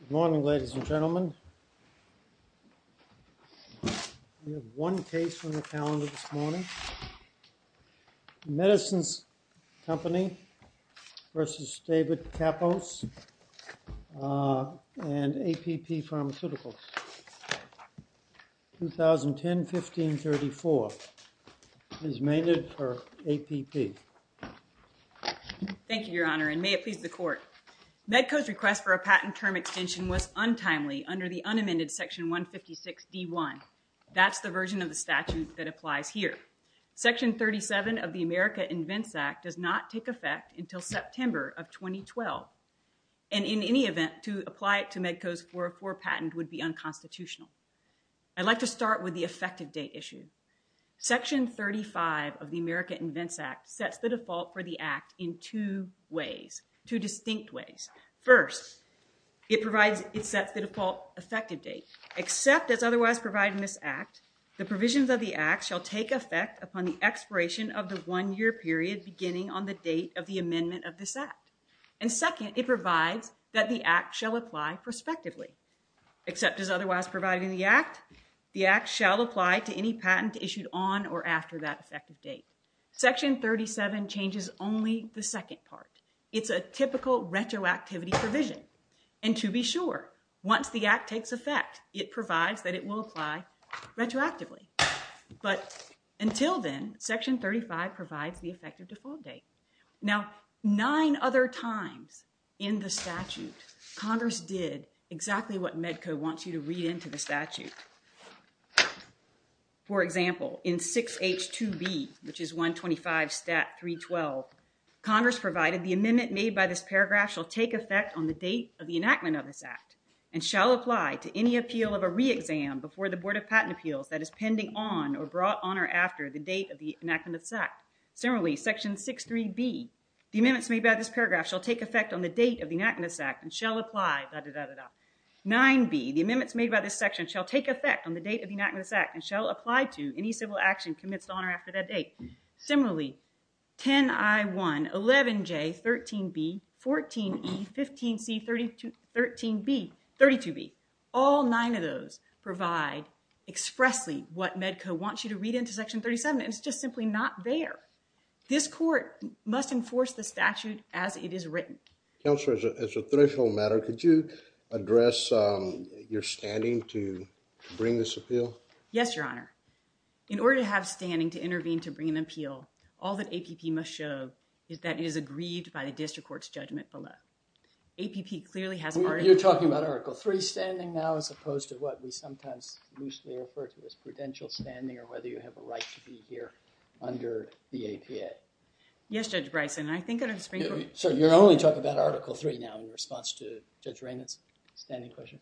Good morning, ladies and gentlemen. We have one case on the calendar this morning. MEDICINES CO v. DAVID KAPPOS and APP Pharmaceuticals, 2010-1534 is MEDCO's request for a patent term extension was untimely under the unamended Section 156-D-1. That's the version of the statute that applies here. Section 37 of the America Invents Act does not take effect until September of 2012. And in any event, to apply it to MEDCO's 404 patent would be unconstitutional. I'd like to start with the effective date issue. Section 35 of the America Invents Act sets the default for the act in two ways, two distinct ways. First, it provides, it sets the default effective date, except as otherwise provided in this act, the provisions of the act shall take effect upon the expiration of the one-year period beginning on the date of the amendment of this act. And second, it provides that the act shall apply prospectively, except as otherwise provided in the act, the act shall apply to any patent issued on or after that effective date. Section 37 changes only the second part. It's a typical retroactivity provision. And to be sure, once the act takes effect, it provides that it will apply retroactively. But until then, Section 35 provides the effective default date. Now, nine other times in the statute, Congress did exactly what MEDCO wants you to read into the statute. For example, in 6H2B, which is 125 stat 312, Congress provided the amendment made by this paragraph shall take effect on the date of the enactment of this act and shall apply to any appeal of a re-exam before the Board of Patent Appeals that is pending on or brought on or after the date of the enactment of this act. Similarly, section 63B, the amendments made by this paragraph shall take effect on the date of the enactment of this act and shall apply da, da, da. 9B, the amendments made by this section shall take effect on the date of the enactment of this act and shall apply to any civil action commenced on or after that date. Similarly, 10I1, 11J, 13B, 14E, 15C, 13B, 32B. All nine of those provide expressly what Medco wants you to read into section 37. It's just simply not there. This court must enforce the statute as it is written. Counselor, as a threshold matter, could you address your standing to bring this appeal? Yes, Your Honor. In order to have standing to intervene to bring an appeal, all that APP must show is that it is agreed by the district court's judgment below. APP clearly has a part of... You're talking about Article III standing now as opposed to what we sometimes loosely refer to as prudential standing or whether you have a right to be here under the APA. Yes, Judge Bryson. I think I'd explain... So you're only talking about Article III now in response to Judge Raymond's standing question?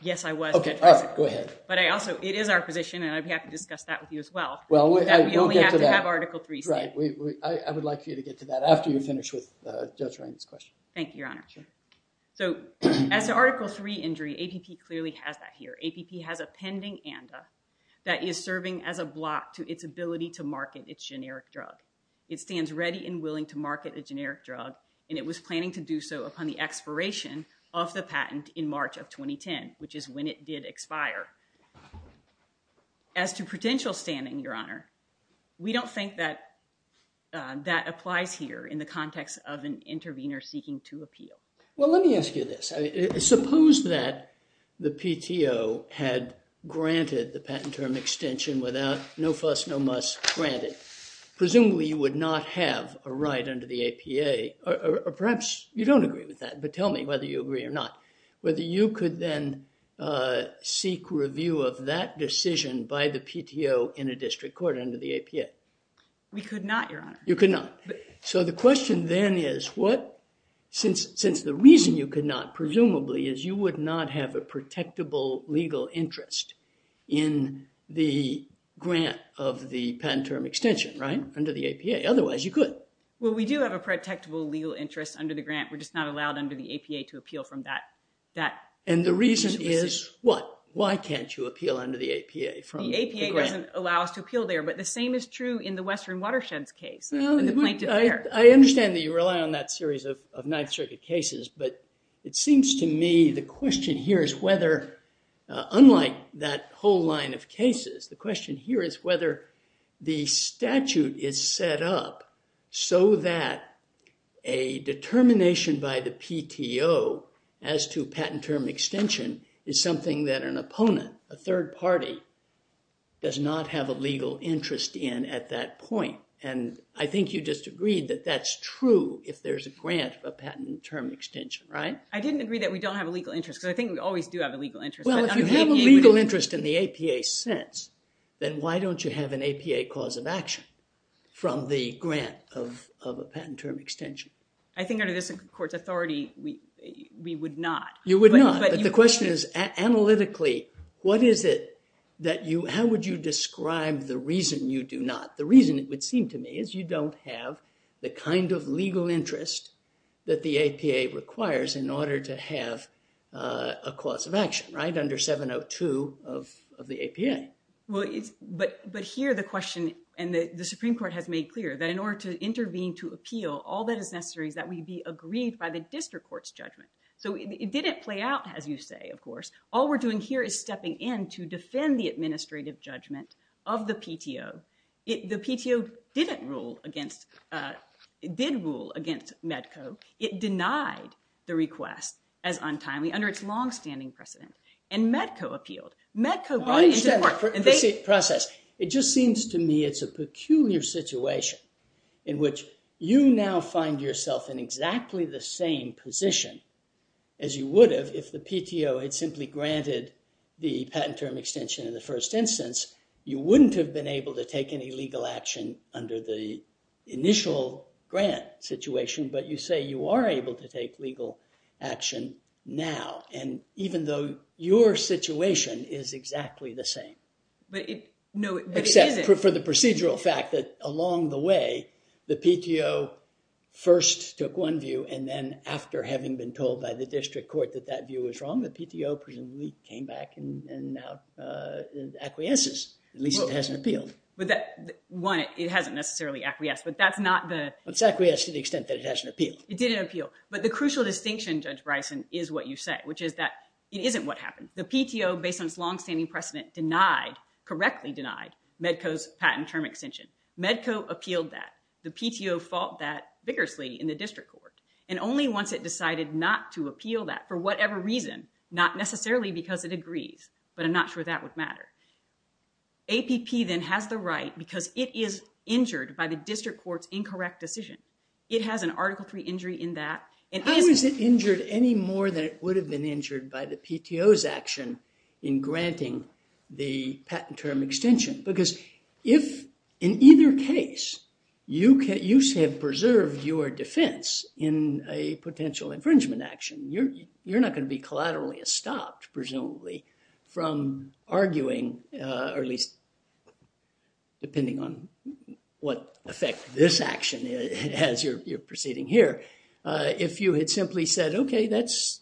Yes, I was. Okay. Go ahead. It is our position, and I'd be happy to discuss that with you as well, that we only have to have Article III stand. I would like you to get to that after you finish with Judge Raymond's question. Thank you, Your Honor. So as to Article III injury, APP clearly has that here. APP has a pending ANDA that is serving as a block to its ability to market its generic drug. It stands ready and willing to market a generic drug, and it was planning to do so upon the patent in March of 2010, which is when it did expire. As to prudential standing, Your Honor, we don't think that applies here in the context of an intervener seeking to appeal. Well, let me ask you this. Suppose that the PTO had granted the patent term extension without no fuss, no muss granted. Presumably, you would not have a right under the APA, or perhaps you don't agree with that, but tell me whether you agree or not, whether you could then seek review of that decision by the PTO in a district court under the APA. We could not, Your Honor. You could not. So the question then is what, since the reason you could not, presumably, is you would not have a protectable legal interest in the grant of the patent term extension, right, under the APA. Otherwise, you could. Well, we do have a protectable legal interest under the grant. We're just not allowed under the APA to appeal from that. And the reason is what? Why can't you appeal under the APA? The APA doesn't allow us to appeal there, but the same is true in the Western Watersheds case. I understand that you rely on that series of Ninth Circuit cases, but it seems to me the question here is whether, unlike that whole line of cases, the question here is whether the statute is set up so that a determination by the PTO as to patent term extension is something that an opponent, a third party, does not have a legal interest in at that point. And I think you just agreed that that's true if there's a grant of a patent term extension, right? I didn't agree that we don't have a legal interest, because I think we always do have a legal interest. If you have a legal interest in the APA sense, then why don't you have an APA cause of action from the grant of a patent term extension? I think under this court's authority, we would not. You would not. But the question is analytically, how would you describe the reason you do not? The reason, it would seem to me, is you don't have the kind of legal interest that the APA requires in order to have a cause of action, right, under 702 of the APA. Well, but here the question, and the Supreme Court has made clear, that in order to intervene to appeal, all that is necessary is that we be agreed by the district court's judgment. So it didn't play out as you say, of course. All we're doing here is stepping in to defend the administrative judgment of the PTO. The PTO didn't rule against, did rule against MEDCO. It denied the request as untimely, under its long-standing precedent. And MEDCO appealed. MEDCO brought it into court, and they- Process. It just seems to me it's a peculiar situation in which you now find yourself in exactly the same position as you would have if the PTO had simply granted the patent term extension in the first instance. You wouldn't have been able to take any legal action under the initial grant situation. But you say you are able to take legal action now, and even though your situation is exactly the same. But it- No, it isn't. Except for the procedural fact that along the way, the PTO first took one view, and then after having been told by the district court that that view was wrong, the PTO presumably came back and now acquiesces. At least it hasn't appealed. But that, one, it hasn't necessarily acquiesced, but that's not the- It's acquiesced to the extent that it hasn't appealed. It didn't appeal. But the crucial distinction, Judge Bryson, is what you say, which is that it isn't what happened. The PTO, based on its long-standing precedent, denied, correctly denied, MEDCO's patent term extension. MEDCO appealed that. The PTO fought that vigorously in the district court. And only once it decided not to appeal that, for whatever reason, not necessarily because it agrees, but I'm not sure that would matter, APP then has the right, because it is injured by the district court's incorrect decision. It has an Article III injury in that. How is it injured any more than it would have been injured by the PTO's action in granting the patent term extension? Because if, in either case, you have preserved your defense in a potential infringement action, you're not going to be collaterally stopped, presumably, from arguing, or at least depending on what effect this action has, you're proceeding here. If you had simply said, OK, that's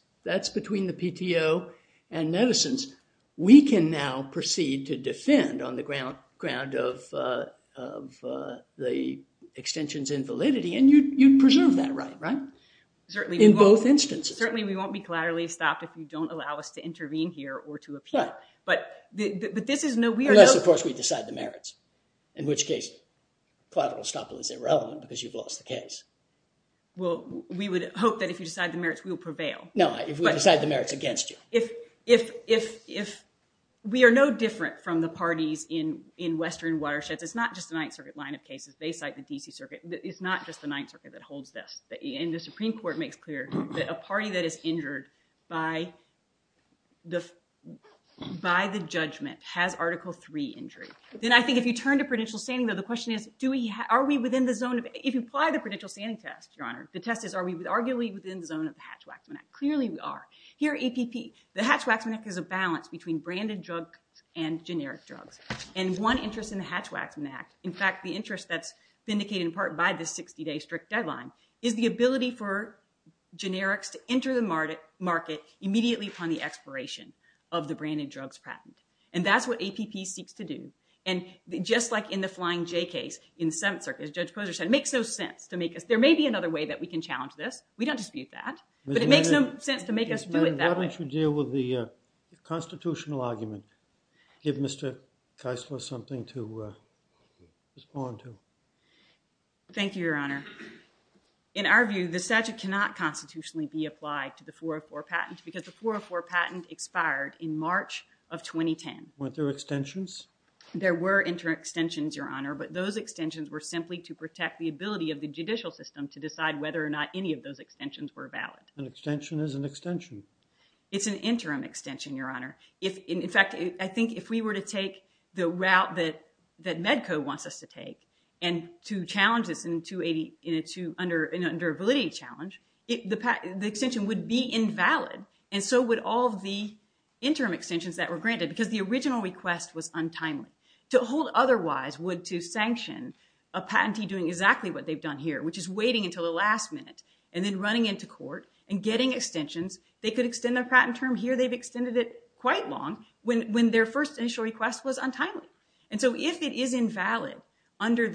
between the PTO and medicines, we can now proceed to defend on the ground of the extension's invalidity. And you'd preserve that right, right? Certainly. In both instances. Certainly, we won't be collaterally stopped if you don't allow us to intervene here or to appeal. Right. But this is no, we are no— in which case, collateral stop is irrelevant because you've lost the case. Well, we would hope that if you decide the merits, we will prevail. No, if we decide the merits against you. If we are no different from the parties in Western watersheds, it's not just the Ninth Circuit line of cases. They cite the D.C. Circuit. It's not just the Ninth Circuit that holds this. And the Supreme Court makes clear that a party that is injured by the judgment has Article III injury. Then I think if you turn to prudential standing, though, the question is, are we within the zone of— if you apply the prudential standing test, Your Honor, the test is, are we arguably within the zone of the Hatch-Waxman Act? Clearly, we are. Here, APP, the Hatch-Waxman Act is a balance between branded drugs and generic drugs. And one interest in the Hatch-Waxman Act, in fact, the interest that's vindicated in part by the 60-day strict deadline, is the ability for generics to enter the market immediately upon the expiration of the branded drugs patent. And that's what APP seeks to do. And just like in the Flying J case in the Seventh Circuit, as Judge Posner said, it makes no sense to make us— there may be another way that we can challenge this. We don't dispute that. But it makes no sense to make us do it that way. Why don't you deal with the constitutional argument? Give Mr. Keisler something to respond to. Thank you, Your Honor. In our view, the statute cannot constitutionally be applied to the 404 patent because the 404 patent expired in March of 2010. Weren't there extensions? There were interim extensions, Your Honor. But those extensions were simply to protect the ability of the judicial system to decide whether or not any of those extensions were valid. An extension is an extension. It's an interim extension, Your Honor. In fact, I think if we were to take the route that MEDCO wants us to take and to challenge this in an undervalidity challenge, the extension would be invalid. And so would all of the interim extensions that were granted because the original request was untimely. To hold otherwise would to sanction a patentee doing exactly what they've done here, which is waiting until the last minute and then running into court and getting extensions. They could extend their patent term here. They've extended it quite long when their first initial request was untimely. And so if it is invalid under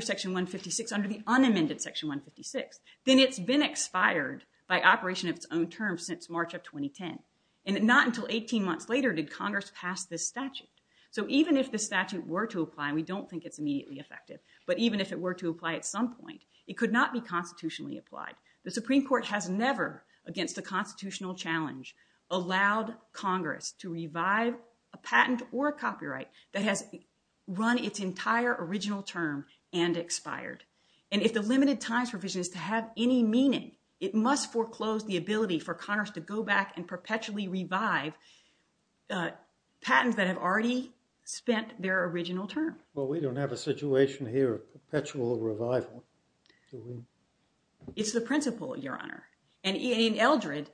Section 156, under the unamended Section 156, then it's been expired by operation of its own term since March of 2010. And not until 18 months later did Congress pass this statute. So even if the statute were to apply, and we don't think it's immediately effective, but even if it were to apply at some point, it could not be constitutionally applied. The Supreme Court has never, against a constitutional challenge, allowed Congress to revive a patent or a copyright that has run its entire original term and expired. And if the limited times provision is to have any meaning, it must foreclose the ability for Congress to go back and perpetually revive patents that have already spent their original term. Well, we don't have a situation here of perpetual revival. It's the principle, Your Honor. And in Eldred,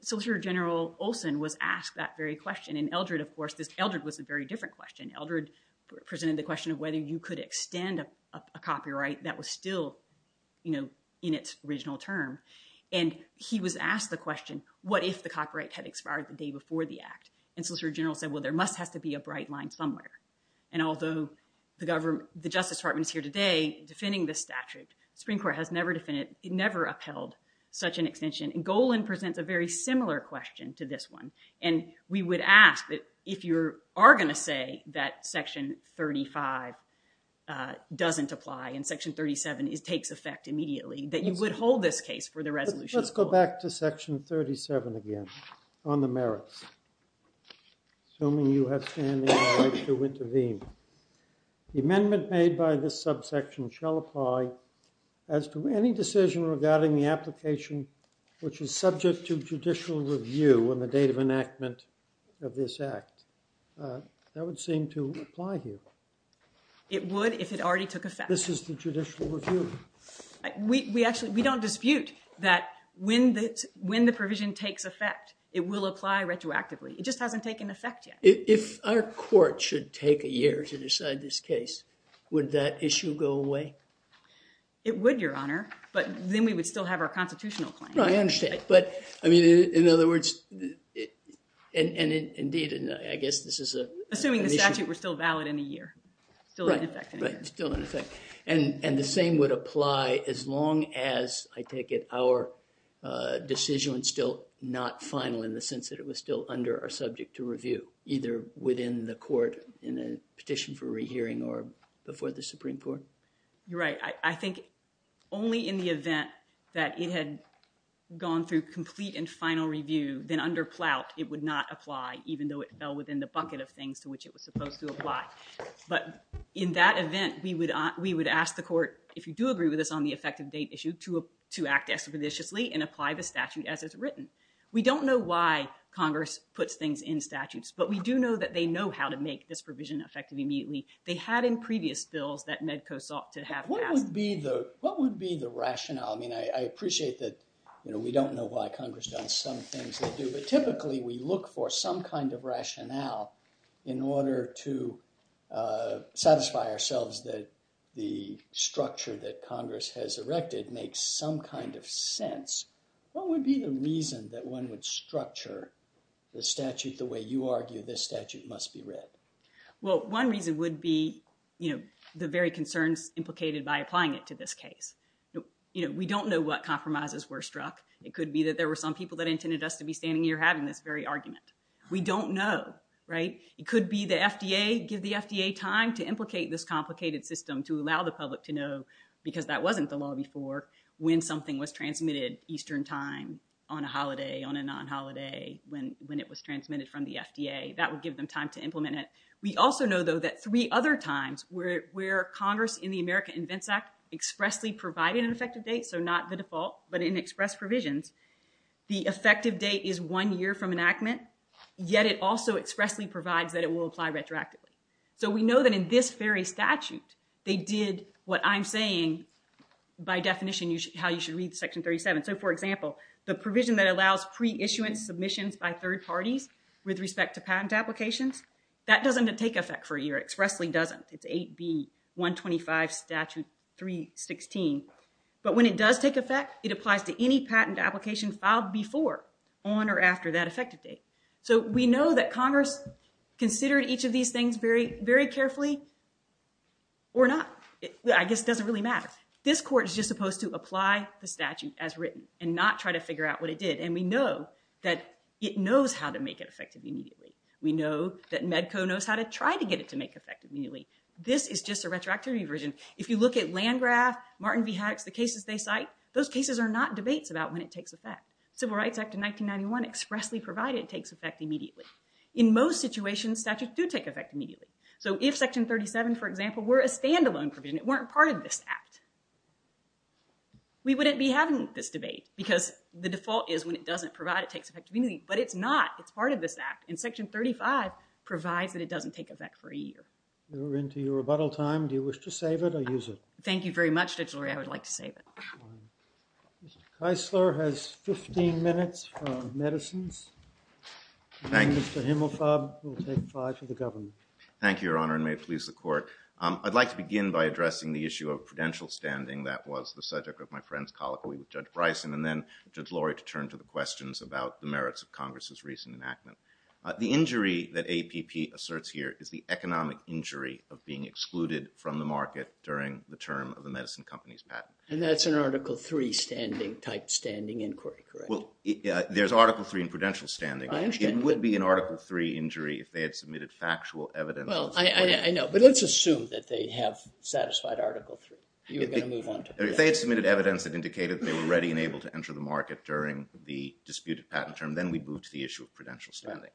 Solicitor General Olson was asked that very question. In Eldred, of course, this Eldred was a very different question. Eldred presented the question of whether you could extend a copyright that was still in its original term. And he was asked the question, what if the copyright had expired the day before the Act? And Solicitor General said, well, there must have to be a bright line somewhere. And although the Justice Department is here today defending the statute, the Supreme Court has never upheld such an extension. And Golan presents a very similar question to this one. And we would ask that if you are going to say that Section 35 doesn't apply and Section 37 takes effect immediately, that you would hold this case for the resolution. Let's go back to Section 37 again on the merits. Assuming you have standing right to intervene, the amendment made by this subsection shall apply as to any decision regarding the application which is subject to judicial review on the effective enactment of this Act. That would seem to apply here. It would if it already took effect. This is the judicial review. We don't dispute that when the provision takes effect, it will apply retroactively. It just hasn't taken effect yet. If our court should take a year to decide this case, would that issue go away? It would, Your Honor. But then we would still have our constitutional claim. I understand. But, I mean, in other words, and indeed, I guess this is a— Assuming the statute were still valid in a year, still in effect. Right, still in effect. And the same would apply as long as, I take it, our decision was still not final in the sense that it was still under our subject to review, either within the court in a petition for rehearing or before the Supreme Court? You're right. I think only in the event that it had gone through complete and final review, then under plout, it would not apply, even though it fell within the bucket of things to which it was supposed to apply. But in that event, we would ask the court, if you do agree with us on the effective date issue, to act expeditiously and apply the statute as it's written. We don't know why Congress puts things in statutes, but we do know that they know how to make this provision effective immediately. They had in previous bills that MEDCO sought to have— What would be the rationale? I mean, I appreciate that we don't know why Congress does some things they do, but typically we look for some kind of rationale in order to satisfy ourselves that the structure that Congress has erected makes some kind of sense. What would be the reason that one would structure the statute the way you argue this statute must be read? Well, one reason would be, you know, the very concerns implicated by applying it to this case. You know, we don't know what compromises were struck. It could be that there were some people that intended us to be standing here having this very argument. We don't know, right? It could be the FDA, give the FDA time to implicate this complicated system to allow the public to know, because that wasn't the law before, when something was transmitted Eastern time, on a holiday, on a non-holiday, when it was transmitted from the FDA. That would give them time to implement it. We also know, though, that three other times where Congress, in the America Invents Act, expressly provided an effective date, so not the default, but in express provisions, the effective date is one year from enactment, yet it also expressly provides that it will apply retroactively. So we know that in this very statute, they did what I'm saying, by definition, how you should read Section 37. So for example, the provision that allows pre-issuance submissions by third parties with respect to patent applications, that doesn't take effect for a year. It expressly doesn't. It's 8B125 Statute 316. But when it does take effect, it applies to any patent application filed before, on, or after that effective date. So we know that Congress considered each of these things very carefully, or not. I guess it doesn't really matter. This court is just supposed to apply the statute as written and not try to figure out what it did. And we know that it knows how to make it effective immediately. We know that MEDCO knows how to try to get it to make effective immediately. This is just a retroactivity version. If you look at Landgraf, Martin v. Haddox, the cases they cite, those cases are not debates about when it takes effect. Civil Rights Act of 1991 expressly provided it takes effect immediately. In most situations, statutes do take effect immediately. So if Section 37, for example, were a standalone provision, it weren't part of this act, we wouldn't be having this debate. Because the default is when it doesn't provide, it takes effect immediately. But it's not. It's part of this act. And Section 35 provides that it doesn't take effect for a year. We're into your rebuttal time. Do you wish to save it or use it? Thank you very much, Judge Lurie. I would like to save it. Mr. Keisler has 15 minutes on medicines. And Mr. Himmelfab will take five for the government. Thank you, Your Honor, and may it please the court. I'd like to begin by addressing the issue of prudential standing. That was the subject of my friend's colloquy with Judge Bryson. And then, Judge Lurie, to turn to the questions about the merits of Congress's recent enactment. The injury that APP asserts here is the economic injury of being excluded from the market during the term of the medicine company's patent. And that's an Article III standing type standing inquiry, correct? Well, there's Article III in prudential standing. It would be an Article III injury if they had submitted factual evidence. Well, I know. But let's assume that they have satisfied Article III. You're going to move on to that. If they had submitted evidence that indicated they were ready and able to enter the market during the disputed patent term, then we move to the issue of prudential standing.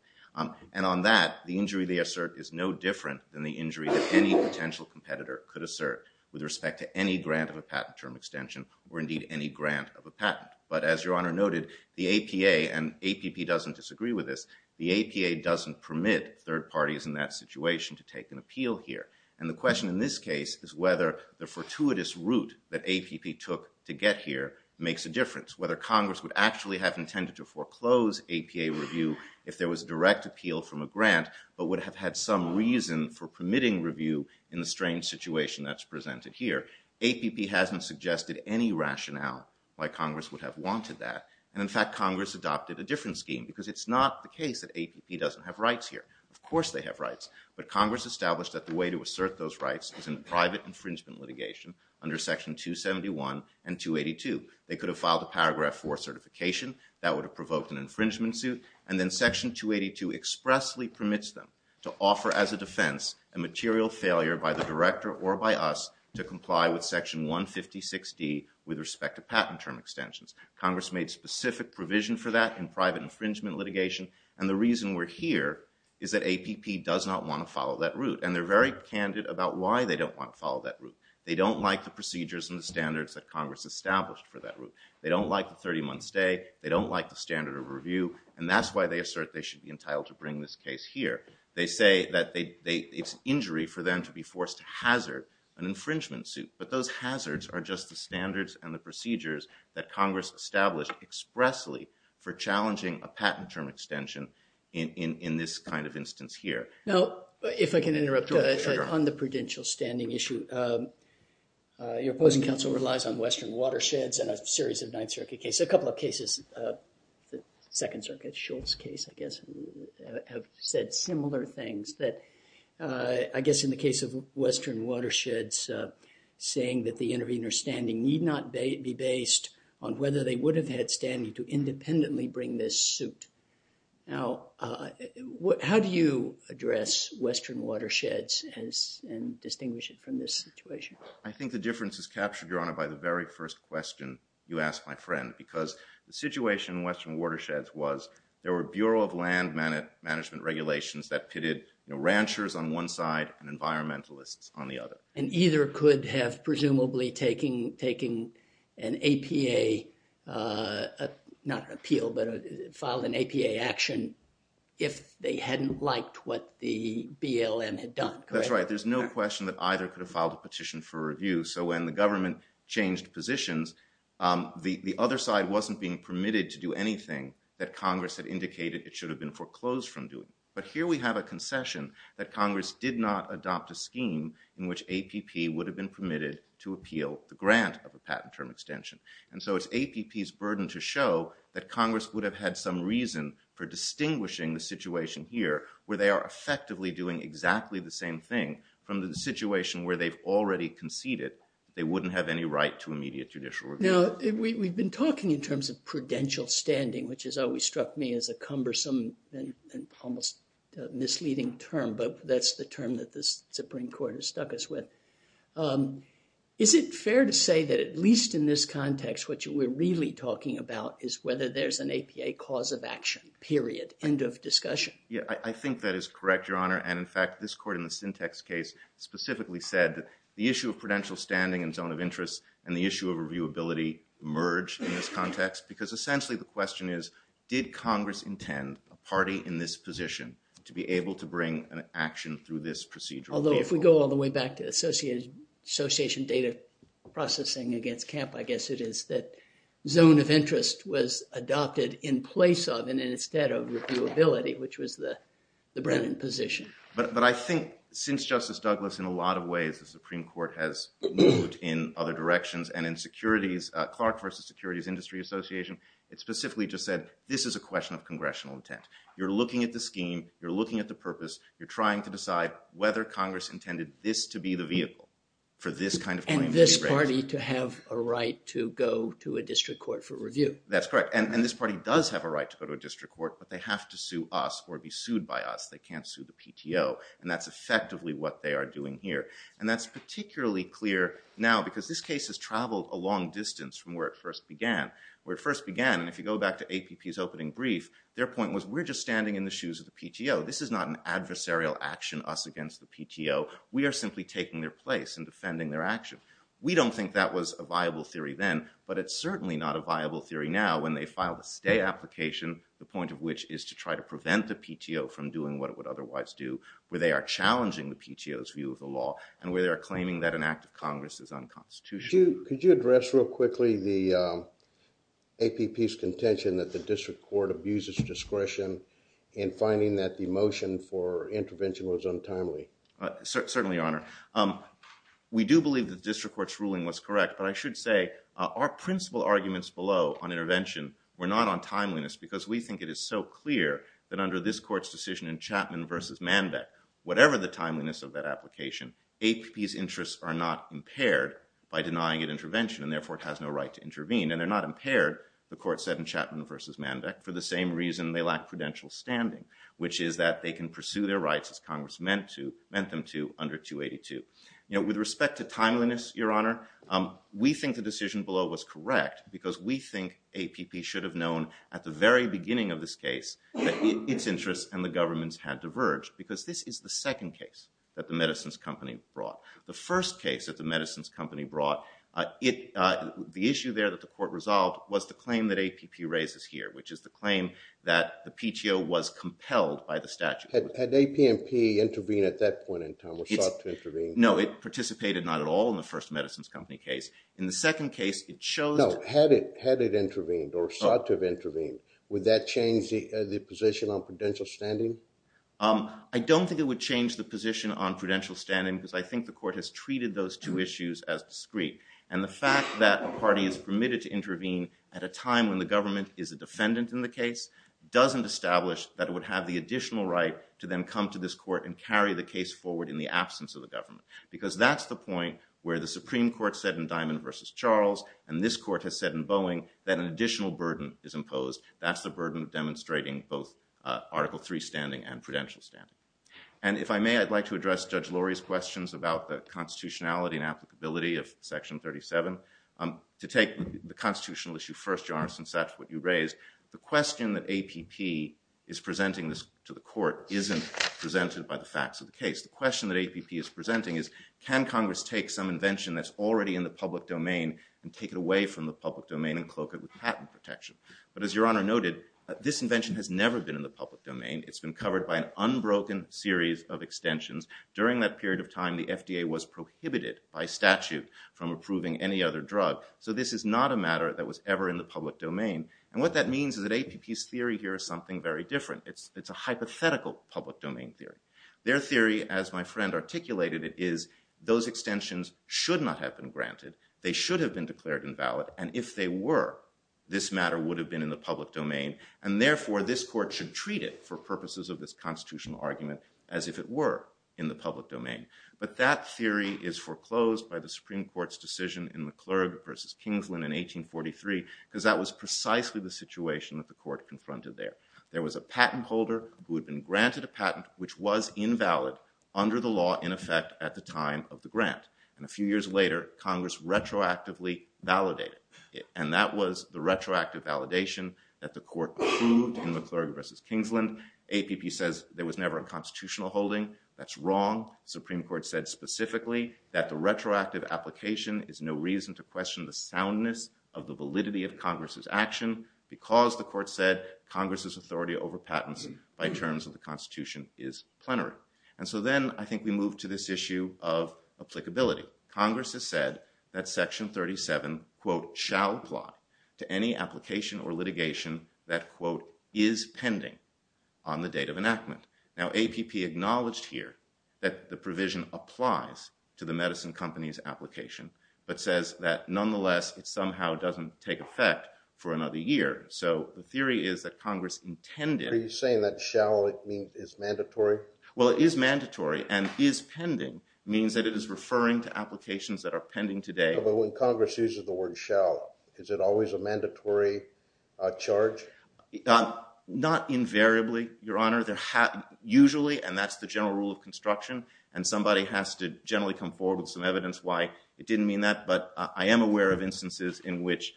And on that, the injury they assert is no different than the injury that any potential competitor could assert with respect to any grant of a patent term extension, or indeed any grant of a patent. But as Your Honor noted, the APA, and APP doesn't disagree with this, the APA doesn't permit third parties in that situation to take an appeal here. And the question in this case is whether the fortuitous route that APP took to get here makes a difference, whether Congress would actually have intended to foreclose APA review if there was direct appeal from a grant, but would have had some reason for permitting review in the strange situation that's presented here. APP hasn't suggested any rationale why Congress would have wanted that. And in fact, Congress adopted a different scheme, because it's not the case that APP doesn't have rights here. Of course they have rights. But Congress established that the way to assert those rights is in private infringement litigation under Section 271 and 282. They could have filed a Paragraph 4 certification. That would have provoked an infringement suit. And then Section 282 expressly permits them to offer as a defense a material failure by the director or by us to comply with Section 156D with respect to patent term extensions. Congress made specific provision for that in private infringement litigation. And the reason we're here is that APP does not want to follow that route. And they're very candid about why they don't want to follow that route. They don't like the procedures and the standards that Congress established for that route. They don't like the 30-month stay. They don't like the standard of review. And that's why they assert they should be entitled to bring this case here. They say that it's injury for them to be forced to hazard an infringement suit. But those hazards are just the standards and the procedures that Congress established expressly for challenging a patent term extension in this kind of instance here. Now, if I can interrupt on the prudential standing issue, your opposing counsel relies on Western Watersheds and a series of Ninth Circuit cases. A couple of cases, the Second Circuit Schultz case, I guess, have said similar things that I guess in the case of Western Watersheds saying that the intervener's standing need not be based on whether they would have had standing to independently bring this suit. Now, how do you address Western Watersheds and distinguish it from this situation? I think the difference is captured, Your Honor, by the very first question you asked my friend, because the situation in Western Watersheds was there were Bureau of Land Management regulations that pitted ranchers on one side and environmentalists on the other. And either could have presumably taken an APA, not appeal, but filed an APA action if they hadn't liked what the BLM had done. That's right. There's no question that either could have filed a petition for review. So when the government changed positions, the other side wasn't being permitted to do anything that Congress had indicated it should have been foreclosed from doing. But here we have a in which APP would have been permitted to appeal the grant of a patent term extension. And so it's APP's burden to show that Congress would have had some reason for distinguishing the situation here where they are effectively doing exactly the same thing from the situation where they've already conceded they wouldn't have any right to immediate judicial review. Now, we've been talking in terms of prudential standing, which has always struck me as a with. Is it fair to say that at least in this context, what we're really talking about is whether there's an APA cause of action, period, end of discussion? Yeah, I think that is correct, Your Honor. And in fact, this court in the Syntex case specifically said that the issue of prudential standing and zone of interest and the issue of reviewability merge in this context because essentially the question is, did Congress intend a party in this position to be able to bring an action through this procedure? Although, if we go all the way back to association data processing against camp, I guess it is that zone of interest was adopted in place of and instead of reviewability, which was the Brennan position. But I think since Justice Douglas, in a lot of ways, the Supreme Court has moved in other directions and in securities, Clark v. Securities Industry Association, it specifically just said, this is a question of congressional intent. You're looking at the scheme, you're looking at the purpose, you're trying to decide whether Congress intended this to be the vehicle for this kind of claim. And this party to have a right to go to a district court for review. That's correct. And this party does have a right to go to a district court, but they have to sue us or be sued by us. They can't sue the PTO. And that's effectively what they are doing here. And that's particularly clear now because this case has traveled a long distance from where it first began. Where it first began, and if you go back to APP's opening brief, their point was, we're just standing in the shoes of the PTO. This is not an adversarial action, us against the PTO. We are simply taking their place and defending their action. We don't think that was a viable theory then, but it's certainly not a viable theory now when they filed a stay application, the point of which is to try to prevent the PTO from doing what it would otherwise do, where they are challenging the PTO's view of the law and where they are claiming that an act of Congress is unconstitutional. Could you address real quickly the APP's contention that the district court abuses discretion in finding that the motion for intervention was untimely? Certainly, Your Honor. We do believe that the district court's ruling was correct, but I should say our principal arguments below on intervention were not on timeliness because we think it is so clear that under this court's decision in Chapman v. Manbeck, whatever the timeliness of that application, APP's interests are not impaired by denying an intervention and therefore it has no right to intervene. And they're not impaired, the court said in Chapman v. Manbeck, for the same reason they lack prudential standing, which is that they can pursue their rights as Congress meant them to under 282. You know, with respect to timeliness, Your Honor, we think the decision below was correct because we think APP should have known at the very beginning of this case that its interests and the government's had diverged because this is the second case that the medicines company brought. The first case that the medicines company brought, the issue there that the court resolved was the claim that APP raises here, which is the claim that the PTO was compelled by the statute. Had APMP intervened at that point in time or sought to intervene? No, it participated not at all in the first medicines company case. In the second case, it chose to... No, had it intervened or sought to have intervened, would that change the position on prudential standing? I don't think it would change the position on prudential standing because I think the court has treated those two issues as discreet. And the fact that a party is permitted to intervene at a time when the government is a defendant in the case doesn't establish that it would have the additional right to then come to this court and carry the case forward in the absence of the government. Because that's the point where the Supreme Court said in Diamond v. Charles, and this court has said in Boeing, that an additional burden is imposed. That's the burden of demonstrating both Article III standing and prudential standing. And if I may, I'd like to address Judge Lurie's questions about the constitutionality and applicability of Section 37. To take the constitutional issue first, Your Honor, since that's what you raised, the question that APP is presenting this to the court isn't presented by the facts of the case. The question that APP is presenting is, can Congress take some invention that's already in the public domain and take it away from the public domain and cloak it with patent protection? But as Your Honor noted, this invention has never been in the public domain. It's been covered by an unbroken series of extensions. During that period of time, the FDA was prohibited by statute from approving any other drug. So this is not a matter that was ever in the public domain. And what that means is that APP's theory here is something very different. It's a hypothetical public domain theory. Their theory, as my friend articulated it, is those extensions should not have been granted. They should have been declared invalid. And if they were, this matter would have been in the public domain. And therefore, this court should treat it for purposes of this constitutional argument as if it were in the public domain. But that theory is foreclosed by the Supreme Court's decision in McClurg v. Kingsland in 1843, because that was precisely the situation that the court was invalid under the law in effect at the time of the grant. And a few years later, Congress retroactively validated it. And that was the retroactive validation that the court approved in McClurg v. Kingsland. APP says there was never a constitutional holding. That's wrong. Supreme Court said specifically that the retroactive application is no reason to question the soundness of the validity of Congress's action, because the court said Congress's plenary. And so then I think we move to this issue of applicability. Congress has said that section 37 quote shall apply to any application or litigation that quote is pending on the date of enactment. Now APP acknowledged here that the provision applies to the medicine company's application, but says that nonetheless it somehow doesn't take effect for another year. So the Well, it is mandatory, and is pending means that it is referring to applications that are pending today. But when Congress uses the word shall, is it always a mandatory charge? Not invariably, Your Honor. Usually, and that's the general rule of construction, and somebody has to generally come forward with some evidence why it didn't mean that. But I am aware of instances in which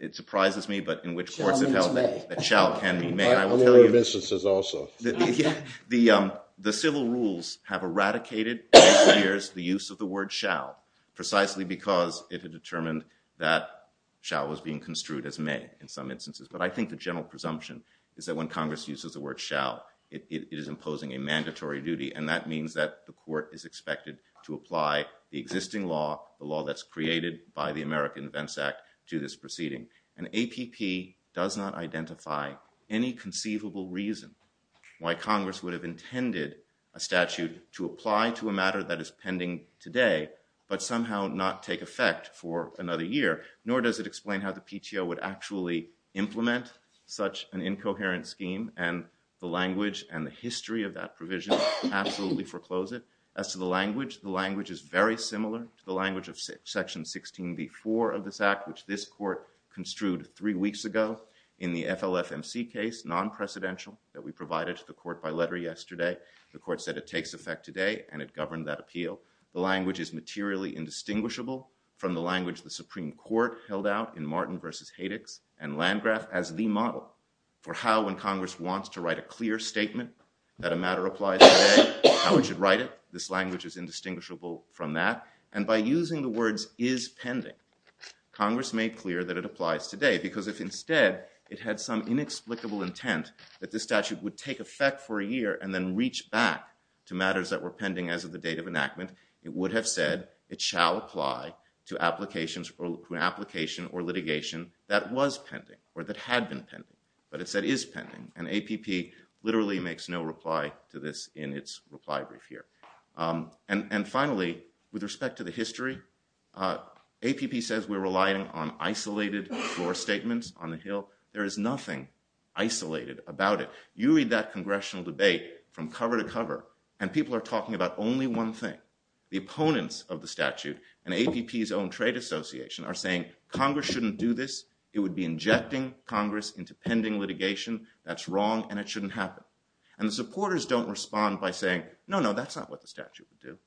it surprises me, but in which courts have held that shall can mean may. I'm aware of instances also. The civil rules have eradicated for years the use of the word shall, precisely because it had determined that shall was being construed as may in some instances. But I think the general presumption is that when Congress uses the word shall, it is imposing a mandatory duty, and that means that the court is expected to apply the existing law, the law that's created by the Why Congress would have intended a statute to apply to a matter that is pending today, but somehow not take effect for another year, nor does it explain how the PTO would actually implement such an incoherent scheme, and the language and the history of that provision absolutely foreclose it. As to the language, the language is very similar to the language of section 16b-4 of this act, which this court construed three weeks ago in the FLFMC case, non-precedential, that we provided to the court by letter yesterday. The court said it takes effect today, and it governed that appeal. The language is materially indistinguishable from the language the Supreme Court held out in Martin v. Haddix and Landgraf as the model for how, when Congress wants to write a clear statement that a matter applies today, how it should write it. This language is indistinguishable from that, and by using the words is pending, Congress made clear that it applies today, because if instead it had some inexplicable intent that this statute would take effect for a year and then reach back to matters that were pending as of the date of enactment, it would have said it shall apply to applications or to an application or litigation that was pending or that had been pending, but it said is pending, and APP literally makes no reply to this in its reply brief here. And finally, with respect to the history, APP says we're relying on isolated floor statements on the Hill. There is nothing isolated about it. You read that congressional debate from cover to cover, and people are talking about only one thing. The opponents of the statute and APP's own trade association are saying Congress shouldn't do this. It would be injecting Congress into pending litigation. That's wrong, and it shouldn't happen. And the supporters don't respond by saying, no, no, that's not what the statute would do.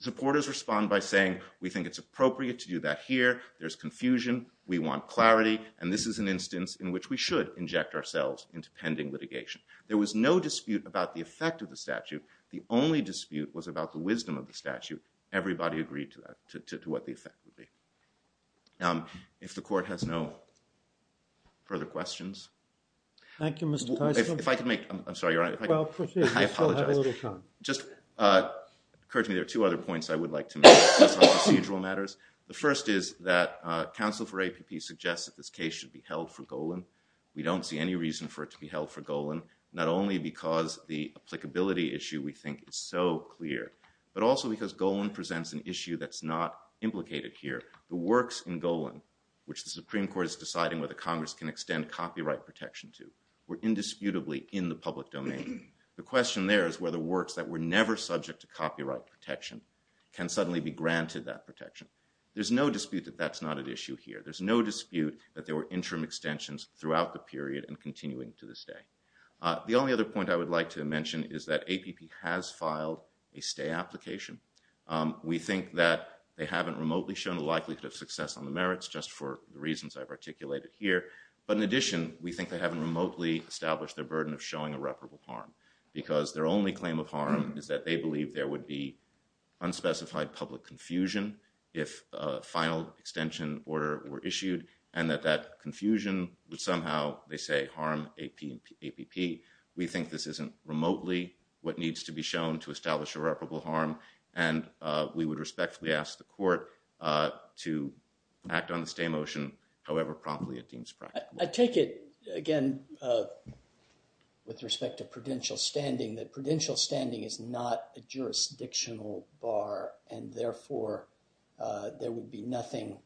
Supporters respond by saying we think it's appropriate to do that here. There's confusion. We want clarity, and this is an instance in which we should inject ourselves into pending litigation. There was no dispute about the effect of the statute. The only dispute was about the wisdom of the statute. Everybody agreed to that, to what the effect would be. Now, if the court has no further questions. Thank you, Mr. Tyson. If I could make, I'm sorry, Your Honor. Well, proceed. I still have a little time. I apologize. Just occurred to me there are two other points I would like to make on procedural matters. The first is that counsel for APP suggests that this case should be held for Golan. We don't see any reason for it to be held for Golan, not only because the applicability issue we think is so clear, but also because Golan presents an issue that's not implicated here. The works in Golan, which the Supreme Court is deciding whether Congress can extend copyright protection to, were indisputably in the public domain. The question there is whether works that were never subject to copyright protection can suddenly be granted that protection. There's no dispute that that's not an issue here. There's no dispute that there were interim extensions throughout the period and continuing to this day. The only other point I would like to mention is that APP has filed a stay application. We think that they haven't remotely shown a likelihood of success on the merits, just for the reasons I've articulated here. But in addition, we think they haven't remotely established their burden of showing irreparable harm, because their only claim of harm is that they believe there would be unspecified public confusion if a final extension order were issued, and that that confusion would somehow, they say, harm APP. We think this isn't remotely what needs to be shown to establish irreparable harm, and we would respectfully ask the Court to act on the stay motion however promptly it deems practical. I take it, again, with respect to prudential standing, that prudential standing is not a jurisdictional bar, and therefore there would be nothing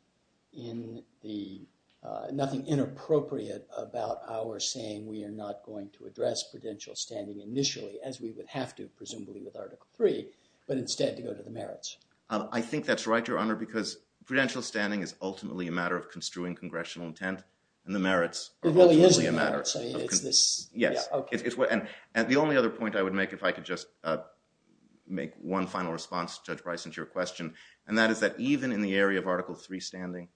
inappropriate about our saying we are not going to address prudential standing initially, as we would have to presumably with Article 3, but instead to go to the merits. I think that's right, Your Honor, because prudential standing is ultimately a matter of construing congressional intent, and the merits are ultimately a matter. Yes, and the only other point I would make, if I could just make one final response to Judge Bryson to your question, and that is that even in the area of Article 3 standing,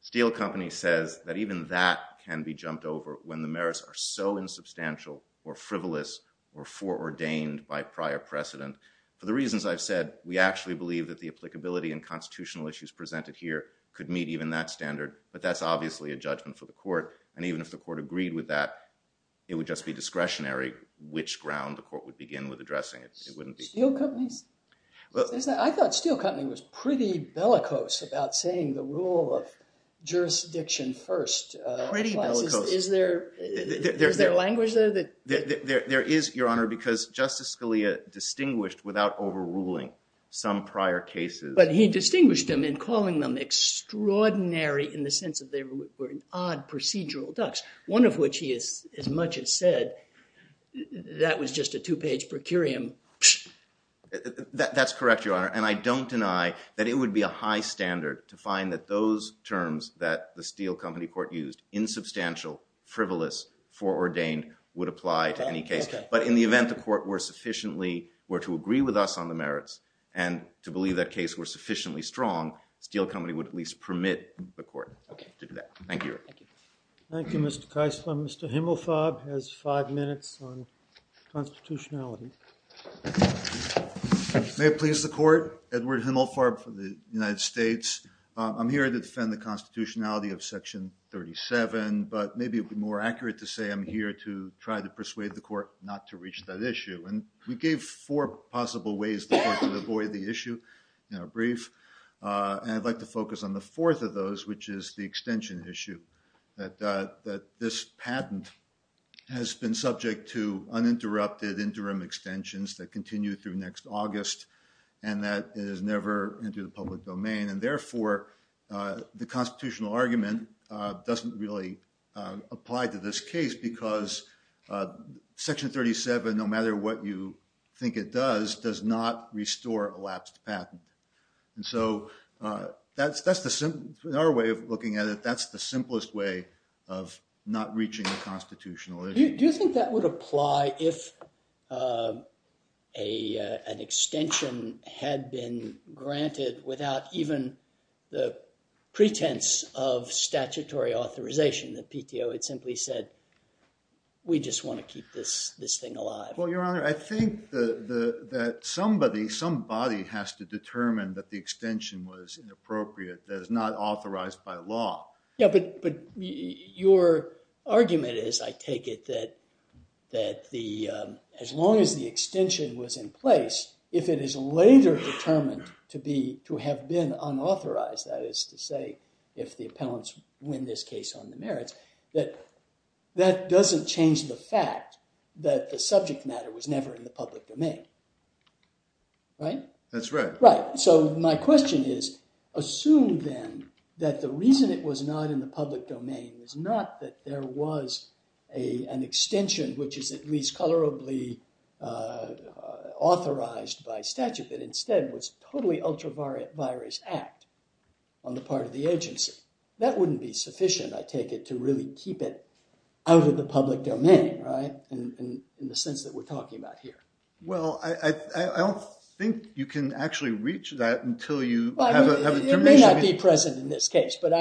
Steel Company says that even that can be jumped over when the merits are so insubstantial or frivolous or foreordained by prior precedent. For the reasons I've said, we actually believe that the applicability and constitutional issues presented here could meet even that standard, but that's obviously a judgment for the court, and even if the court agreed with that, it would just be discretionary which ground the court would begin with addressing it. I thought Steel Company was pretty bellicose about saying the rule of jurisdiction first. Is there language there? There is, Your Honor, because Justice Scalia distinguished without overruling some prior cases. But he distinguished them in calling them extraordinary in the sense that they were odd procedural ducks, one of which, as much as said, that was just a two-page per curiam. That's correct, Your Honor, and I don't deny that it would be a high standard to find that those terms that the Steel Company court used, insubstantial, frivolous, foreordained, would apply to any case. But in the event the court were sufficiently, were to agree with us on the merits and to believe that case were sufficiently strong, Steel Company would at least permit the court to do that. Thank you. Thank you, Mr. Keisler. Mr. Himmelfarb has five minutes on constitutionality. May it please the court, Edward Himmelfarb for the United States. I'm here to defend the constitutionality of Section 37, but maybe it would be more accurate to say I'm here to try to persuade the court not to reach that issue, and we gave four possible ways to avoid the issue in a brief, and I'd like to focus on the fourth of those, which is the extension issue, that this patent has been subject to uninterrupted interim extensions that continue through next August, and that it is never into the public domain, and therefore the constitutional argument doesn't really apply to this case because Section 37, no matter what you think it does, does not restore elapsed patent. And so that's the, in our way of looking at it, that's the simplest way of not reaching a constitutional issue. Do you think that would apply if an extension had been granted without even the pretense of statutory authorization, that PTO had simply said, we just want to keep this thing alive? Well, Your Honor, I think that somebody, some body, has to determine that the extension was inappropriate, that it's not authorized by law. Yeah, but your argument is, I take it, that as long as the extension was in place, if it is later determined to have been unauthorized, that is to say if the appellants win this case on the merits, that that doesn't change the fact that the subject matter was never in the public domain, right? That's right. Right. So my question is, assume then that the reason it was not in the public domain is not that there was an extension which is at least colorably authorized by statute, but instead was totally ultra-virus act on the part of the agency. That wouldn't be sufficient, I take it, to really keep it out of the public domain, right, in the sense that we're talking about here. Well, I don't think you can actually reach that until you have a... It may not be present in this case, but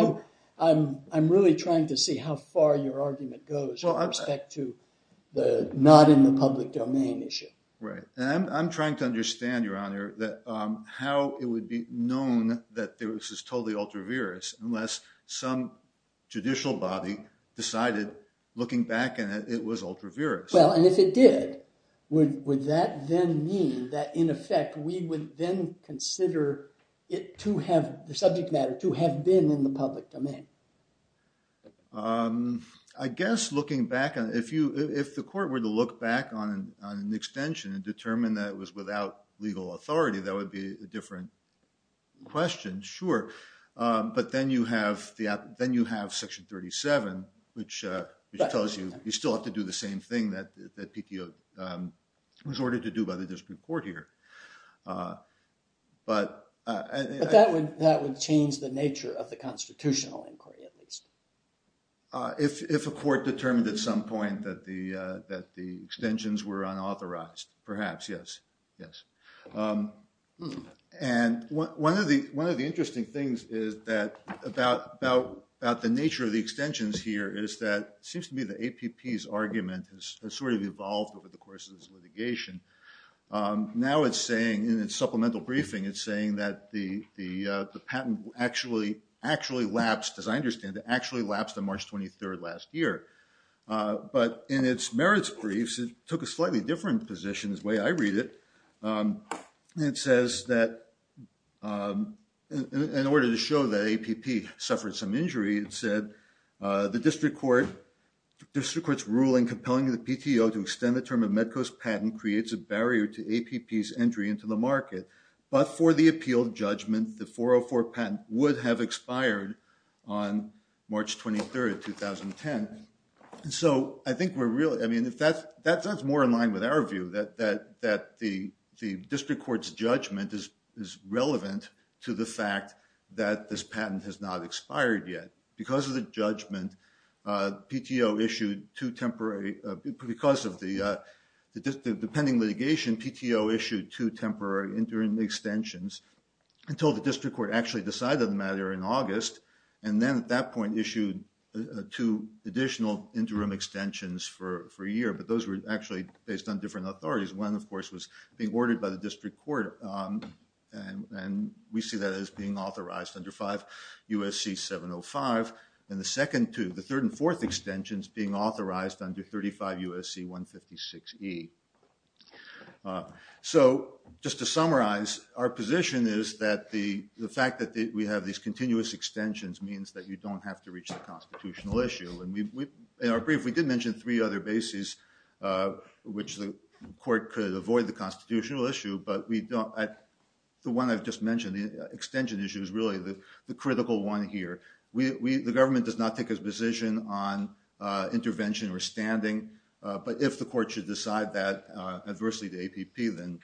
I'm really trying to see how far your argument goes with respect to the not in the public domain issue. Right, and I'm trying to understand, Your Honor, that how it would be known that this is totally ultra-virus unless some judicial body decided, looking back in it, it was ultra-virus. Well, and if it did, would that then mean that, in effect, we would then consider it to have, the subject matter, to have been in the public domain? I guess, looking back on it, if the court were to look back on an extension and determine that it was without legal authority, that would be a different question, sure. But then you have Section 37, which tells you you still have to do the same thing that PTO was ordered to do by the district court here. But that would change the nature of the constitutional inquiry, at least. If a court determined at some point that the extensions were unauthorized, perhaps, yes. And one of the interesting things is that, about the nature of the extensions here, is that it seems to me the APP's argument has sort of evolved over the course of this litigation. Now it's saying, in its supplemental briefing, it's saying that the patent actually actually lapsed, as I understand it, actually lapsed on March 23rd last year. But in its merits briefs, it took a slightly different position, the way I read it. It says that, in order to show that APP suffered some injury, it said, the district court's ruling compelling the PTO to extend the term of Medco's patent creates a barrier to APP's entry into the market. But for the appeal judgment, the 404 patent would have expired on March 23rd, 2010. And so I think we're really, I mean, if that's more in line with our view, that the district court's judgment is relevant to the fact that this patent has not expired yet. Because of the judgment, PTO issued two temporary, because of the pending litigation, PTO issued two temporary interim extensions until the district court actually decided the matter in August. And then at that point issued two additional interim extensions for a year. But those were actually based on different authorities. One, of course, was being ordered by the district court. And we see that as being authorized under 5 U.S.C. 705. And the second two, the third and fourth extensions being authorized under 35 U.S.C. 156E. So just to summarize, our position is that the fact that we have these continuous extensions means that you don't have to reach the constitutional issue. And in our brief, we did mention three other bases which the court could avoid the constitutional issue. But we don't, the one I've just mentioned, the extension issue is really the critical one here. The government does not take a position on intervention or standing. But if the court should decide that adversely to APP, then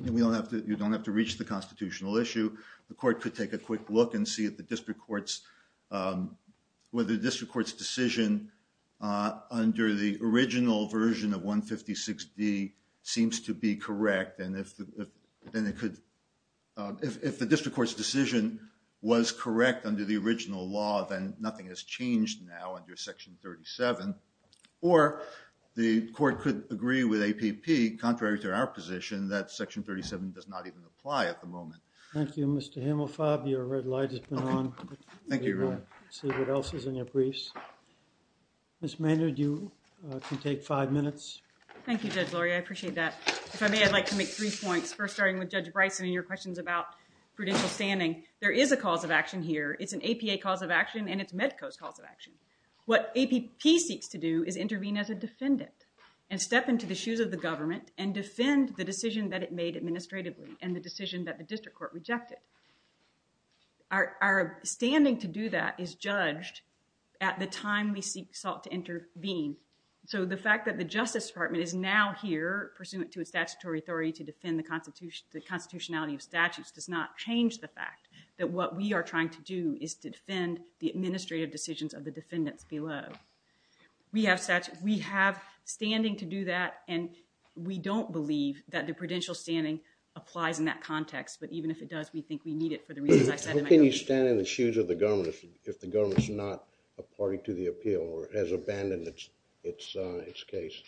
we don't have to, you don't have to reach the constitutional issue. The court could take a quick look and see if the district court's, whether the district court's decision under the original version of 156D seems to be correct. And if the district court's decision was correct under the original law, then nothing has changed now under Section 37. Or the court could agree with APP, contrary to our position, that Section 37 does not even apply at the moment. Thank you, Mr. Hammelfab. Your red light has been on. Thank you, Your Honor. See what else is in your briefs. Ms. Maynard, you can take five minutes. Thank you, Judge Lurie. I appreciate that. If I may, I'd like to make three points. First, with Judge Bryson and your questions about prudential standing, there is a cause of action here. It's an APA cause of action, and it's MEDCO's cause of action. What APP seeks to do is intervene as a defendant and step into the shoes of the government and defend the decision that it made administratively and the decision that the district court rejected. Our standing to do that is judged at the time we seek to intervene. So the fact that the Justice Department is now here, pursuant to its statutory authority to defend the constitutionality of statutes, does not change the fact that what we are trying to do is to defend the administrative decisions of the defendants below. We have standing to do that, and we don't believe that the prudential standing applies in that context. But even if it does, we think we need it for the reasons I said. How can you stand in the shoes of the government if the government is not a party to the appeal or has abandoned its case?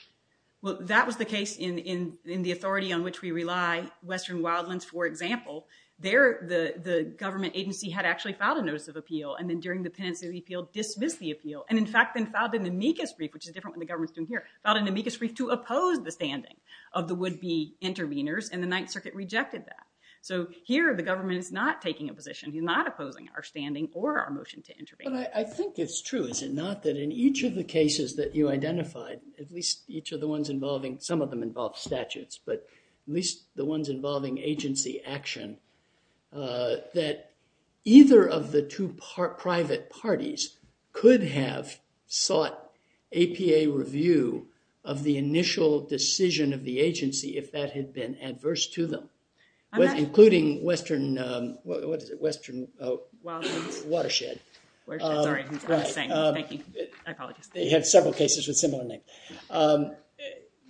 Well, that was the case in the authority on which we rely. Western Wildlands, for example, the government agency had actually filed a notice of appeal and then during the penitentiary appeal dismissed the appeal and in fact then filed an amicus brief, which is different than the government's doing here, filed an amicus brief to oppose the standing of the would-be intervenors and the Ninth Circuit rejected that. So here the government is not taking a position. He's not opposing our standing or our motion to intervene. But I think it's true, is it not, that in each of the cases that you identified, at least each of the ones involving, some of them involve statutes, but at least the ones involving agency action, that either of the two private parties could have sought APA review of the initial decision of the agency if that had been adverse to them, including Western, what is it, Western Watershed. They have several cases with similar names.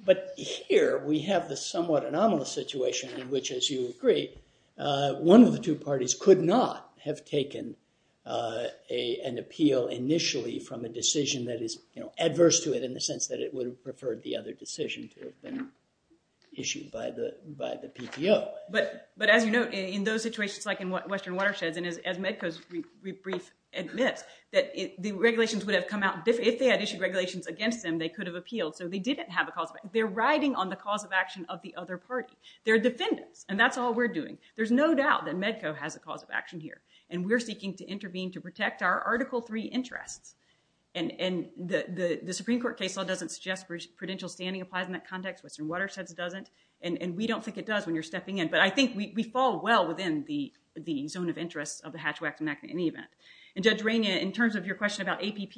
But here we have the somewhat anomalous situation in which, as you agree, one of the two parties could not have taken an appeal initially from a decision that is adverse to it in the sense that it would have preferred the other decision to have been issued by the PTO. But as you note, in those situations, like in Western Watersheds, and as Medco's brief admits, that the regulations would have come out, if they had issued regulations against them, they could have appealed. So they didn't have a cause. They're riding on the cause of action of the other party. They're defendants, and that's all we're doing. There's no doubt that Medco has a cause of action here, and we're seeking to intervene to protect our Article 3 interests. And the Supreme Court case law doesn't suggest prudential standing applies in that context. Western Watersheds doesn't, and we don't think it does when you're stepping in. But I think we fall well within the zone of interest of the Hatch-Waxman Act in any event. And Judge Rania, in terms of your question about APP,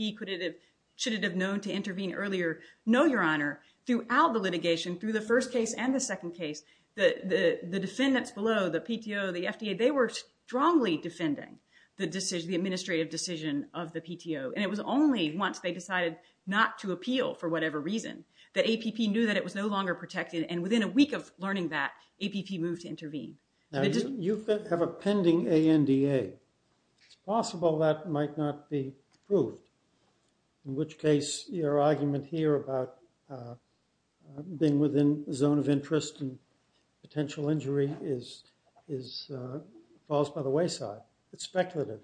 should it have known to intervene earlier? No, Your Honor. Throughout the litigation, through the first case and the second case, the defendants below, the PTO, the FDA, they were strongly defending the administrative decision of the PTO. And it was only once they decided not to appeal, for whatever reason, that APP knew that it was no longer protected. And within a week of learning that, APP moved to intervene. Now, you have a pending ANDA. It's possible that might not be proved, in which case your argument here about being within the zone of interest and potential injury falls by the wayside. It's speculative.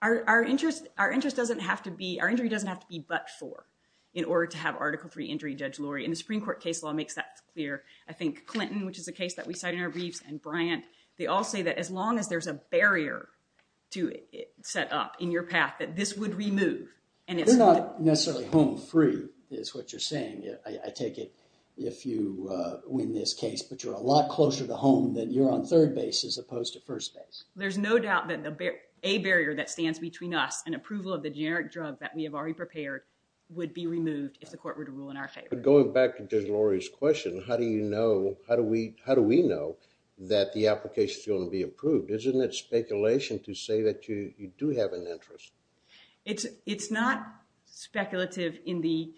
Our interest doesn't have to be, our injury doesn't have to be but for, in order to have Article III injury, Judge Lurie. And the Supreme Court case law makes that clear. I think Clinton, which is a case that we cite in our briefs, and Bryant, they all say that as long as there's a barrier to it set up in your path, that this would remove. They're not necessarily home free, is what you're saying. I take it if you win this case, but you're a lot closer to home than you're on third base as opposed to first base. There's no doubt that a barrier that stands between us and approval of the generic drug that we have already prepared would be removed if the court were to rule in our favor. But going back to Judge Lurie's question, how do you know, how do we, how do we know that the application is going to be approved? Isn't it speculation to say that you you do have an interest? It's not speculative in the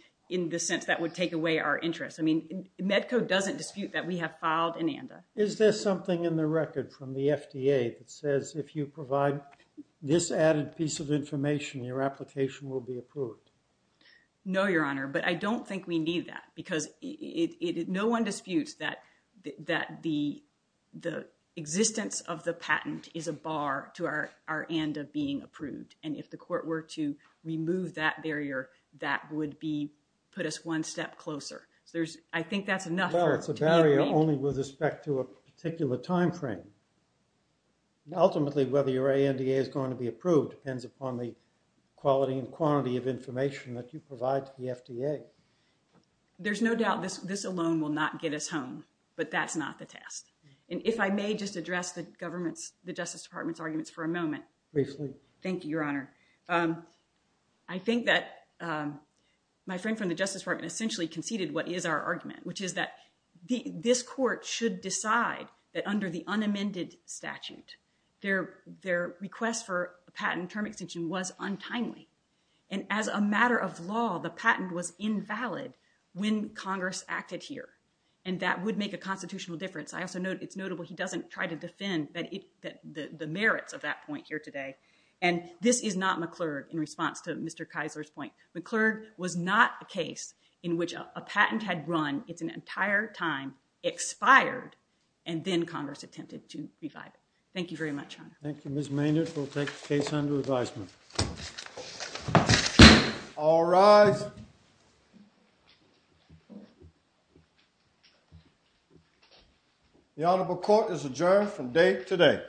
sense that would take away our interest. Medco doesn't dispute that we have filed an ANDA. Is there something in the record from the FDA that says if you provide this added piece of information, your application will be approved? No, Your Honor, but I don't think we need that because no one disputes that the existence of the patent is a bar to our ANDA being approved. And if the court were to remove that barrier, that would be, put us one step closer. So there's, I think that's enough. Well, it's a barrier only with respect to a particular time frame. Ultimately, whether your ANDA is going to be approved depends upon the quality and quantity of information that you provide to the FDA. There's no doubt this, this alone will not get us home, but that's not the test. And if I may just address the government's, the Justice Department's arguments for a moment. Briefly. Thank you, Your Honor. I think that my friend from the Justice Department essentially conceded what is our argument, which is that the, this court should decide that under the unamended statute, their, their request for a patent term extension was untimely. And as a matter of law, the patent was invalid when Congress acted here. And that would make a constitutional difference. I also it's notable he doesn't try to defend that it, that the merits of that point here today. And this is not McClurg in response to Mr. Keisler's point. McClurg was not a case in which a patent had run, it's an entire time, expired, and then Congress attempted to revive it. Thank you very much, Your Honor. Thank you, Ms. Maynard. We'll take the case under advisement. All rise. The honorable court is adjourned from date today.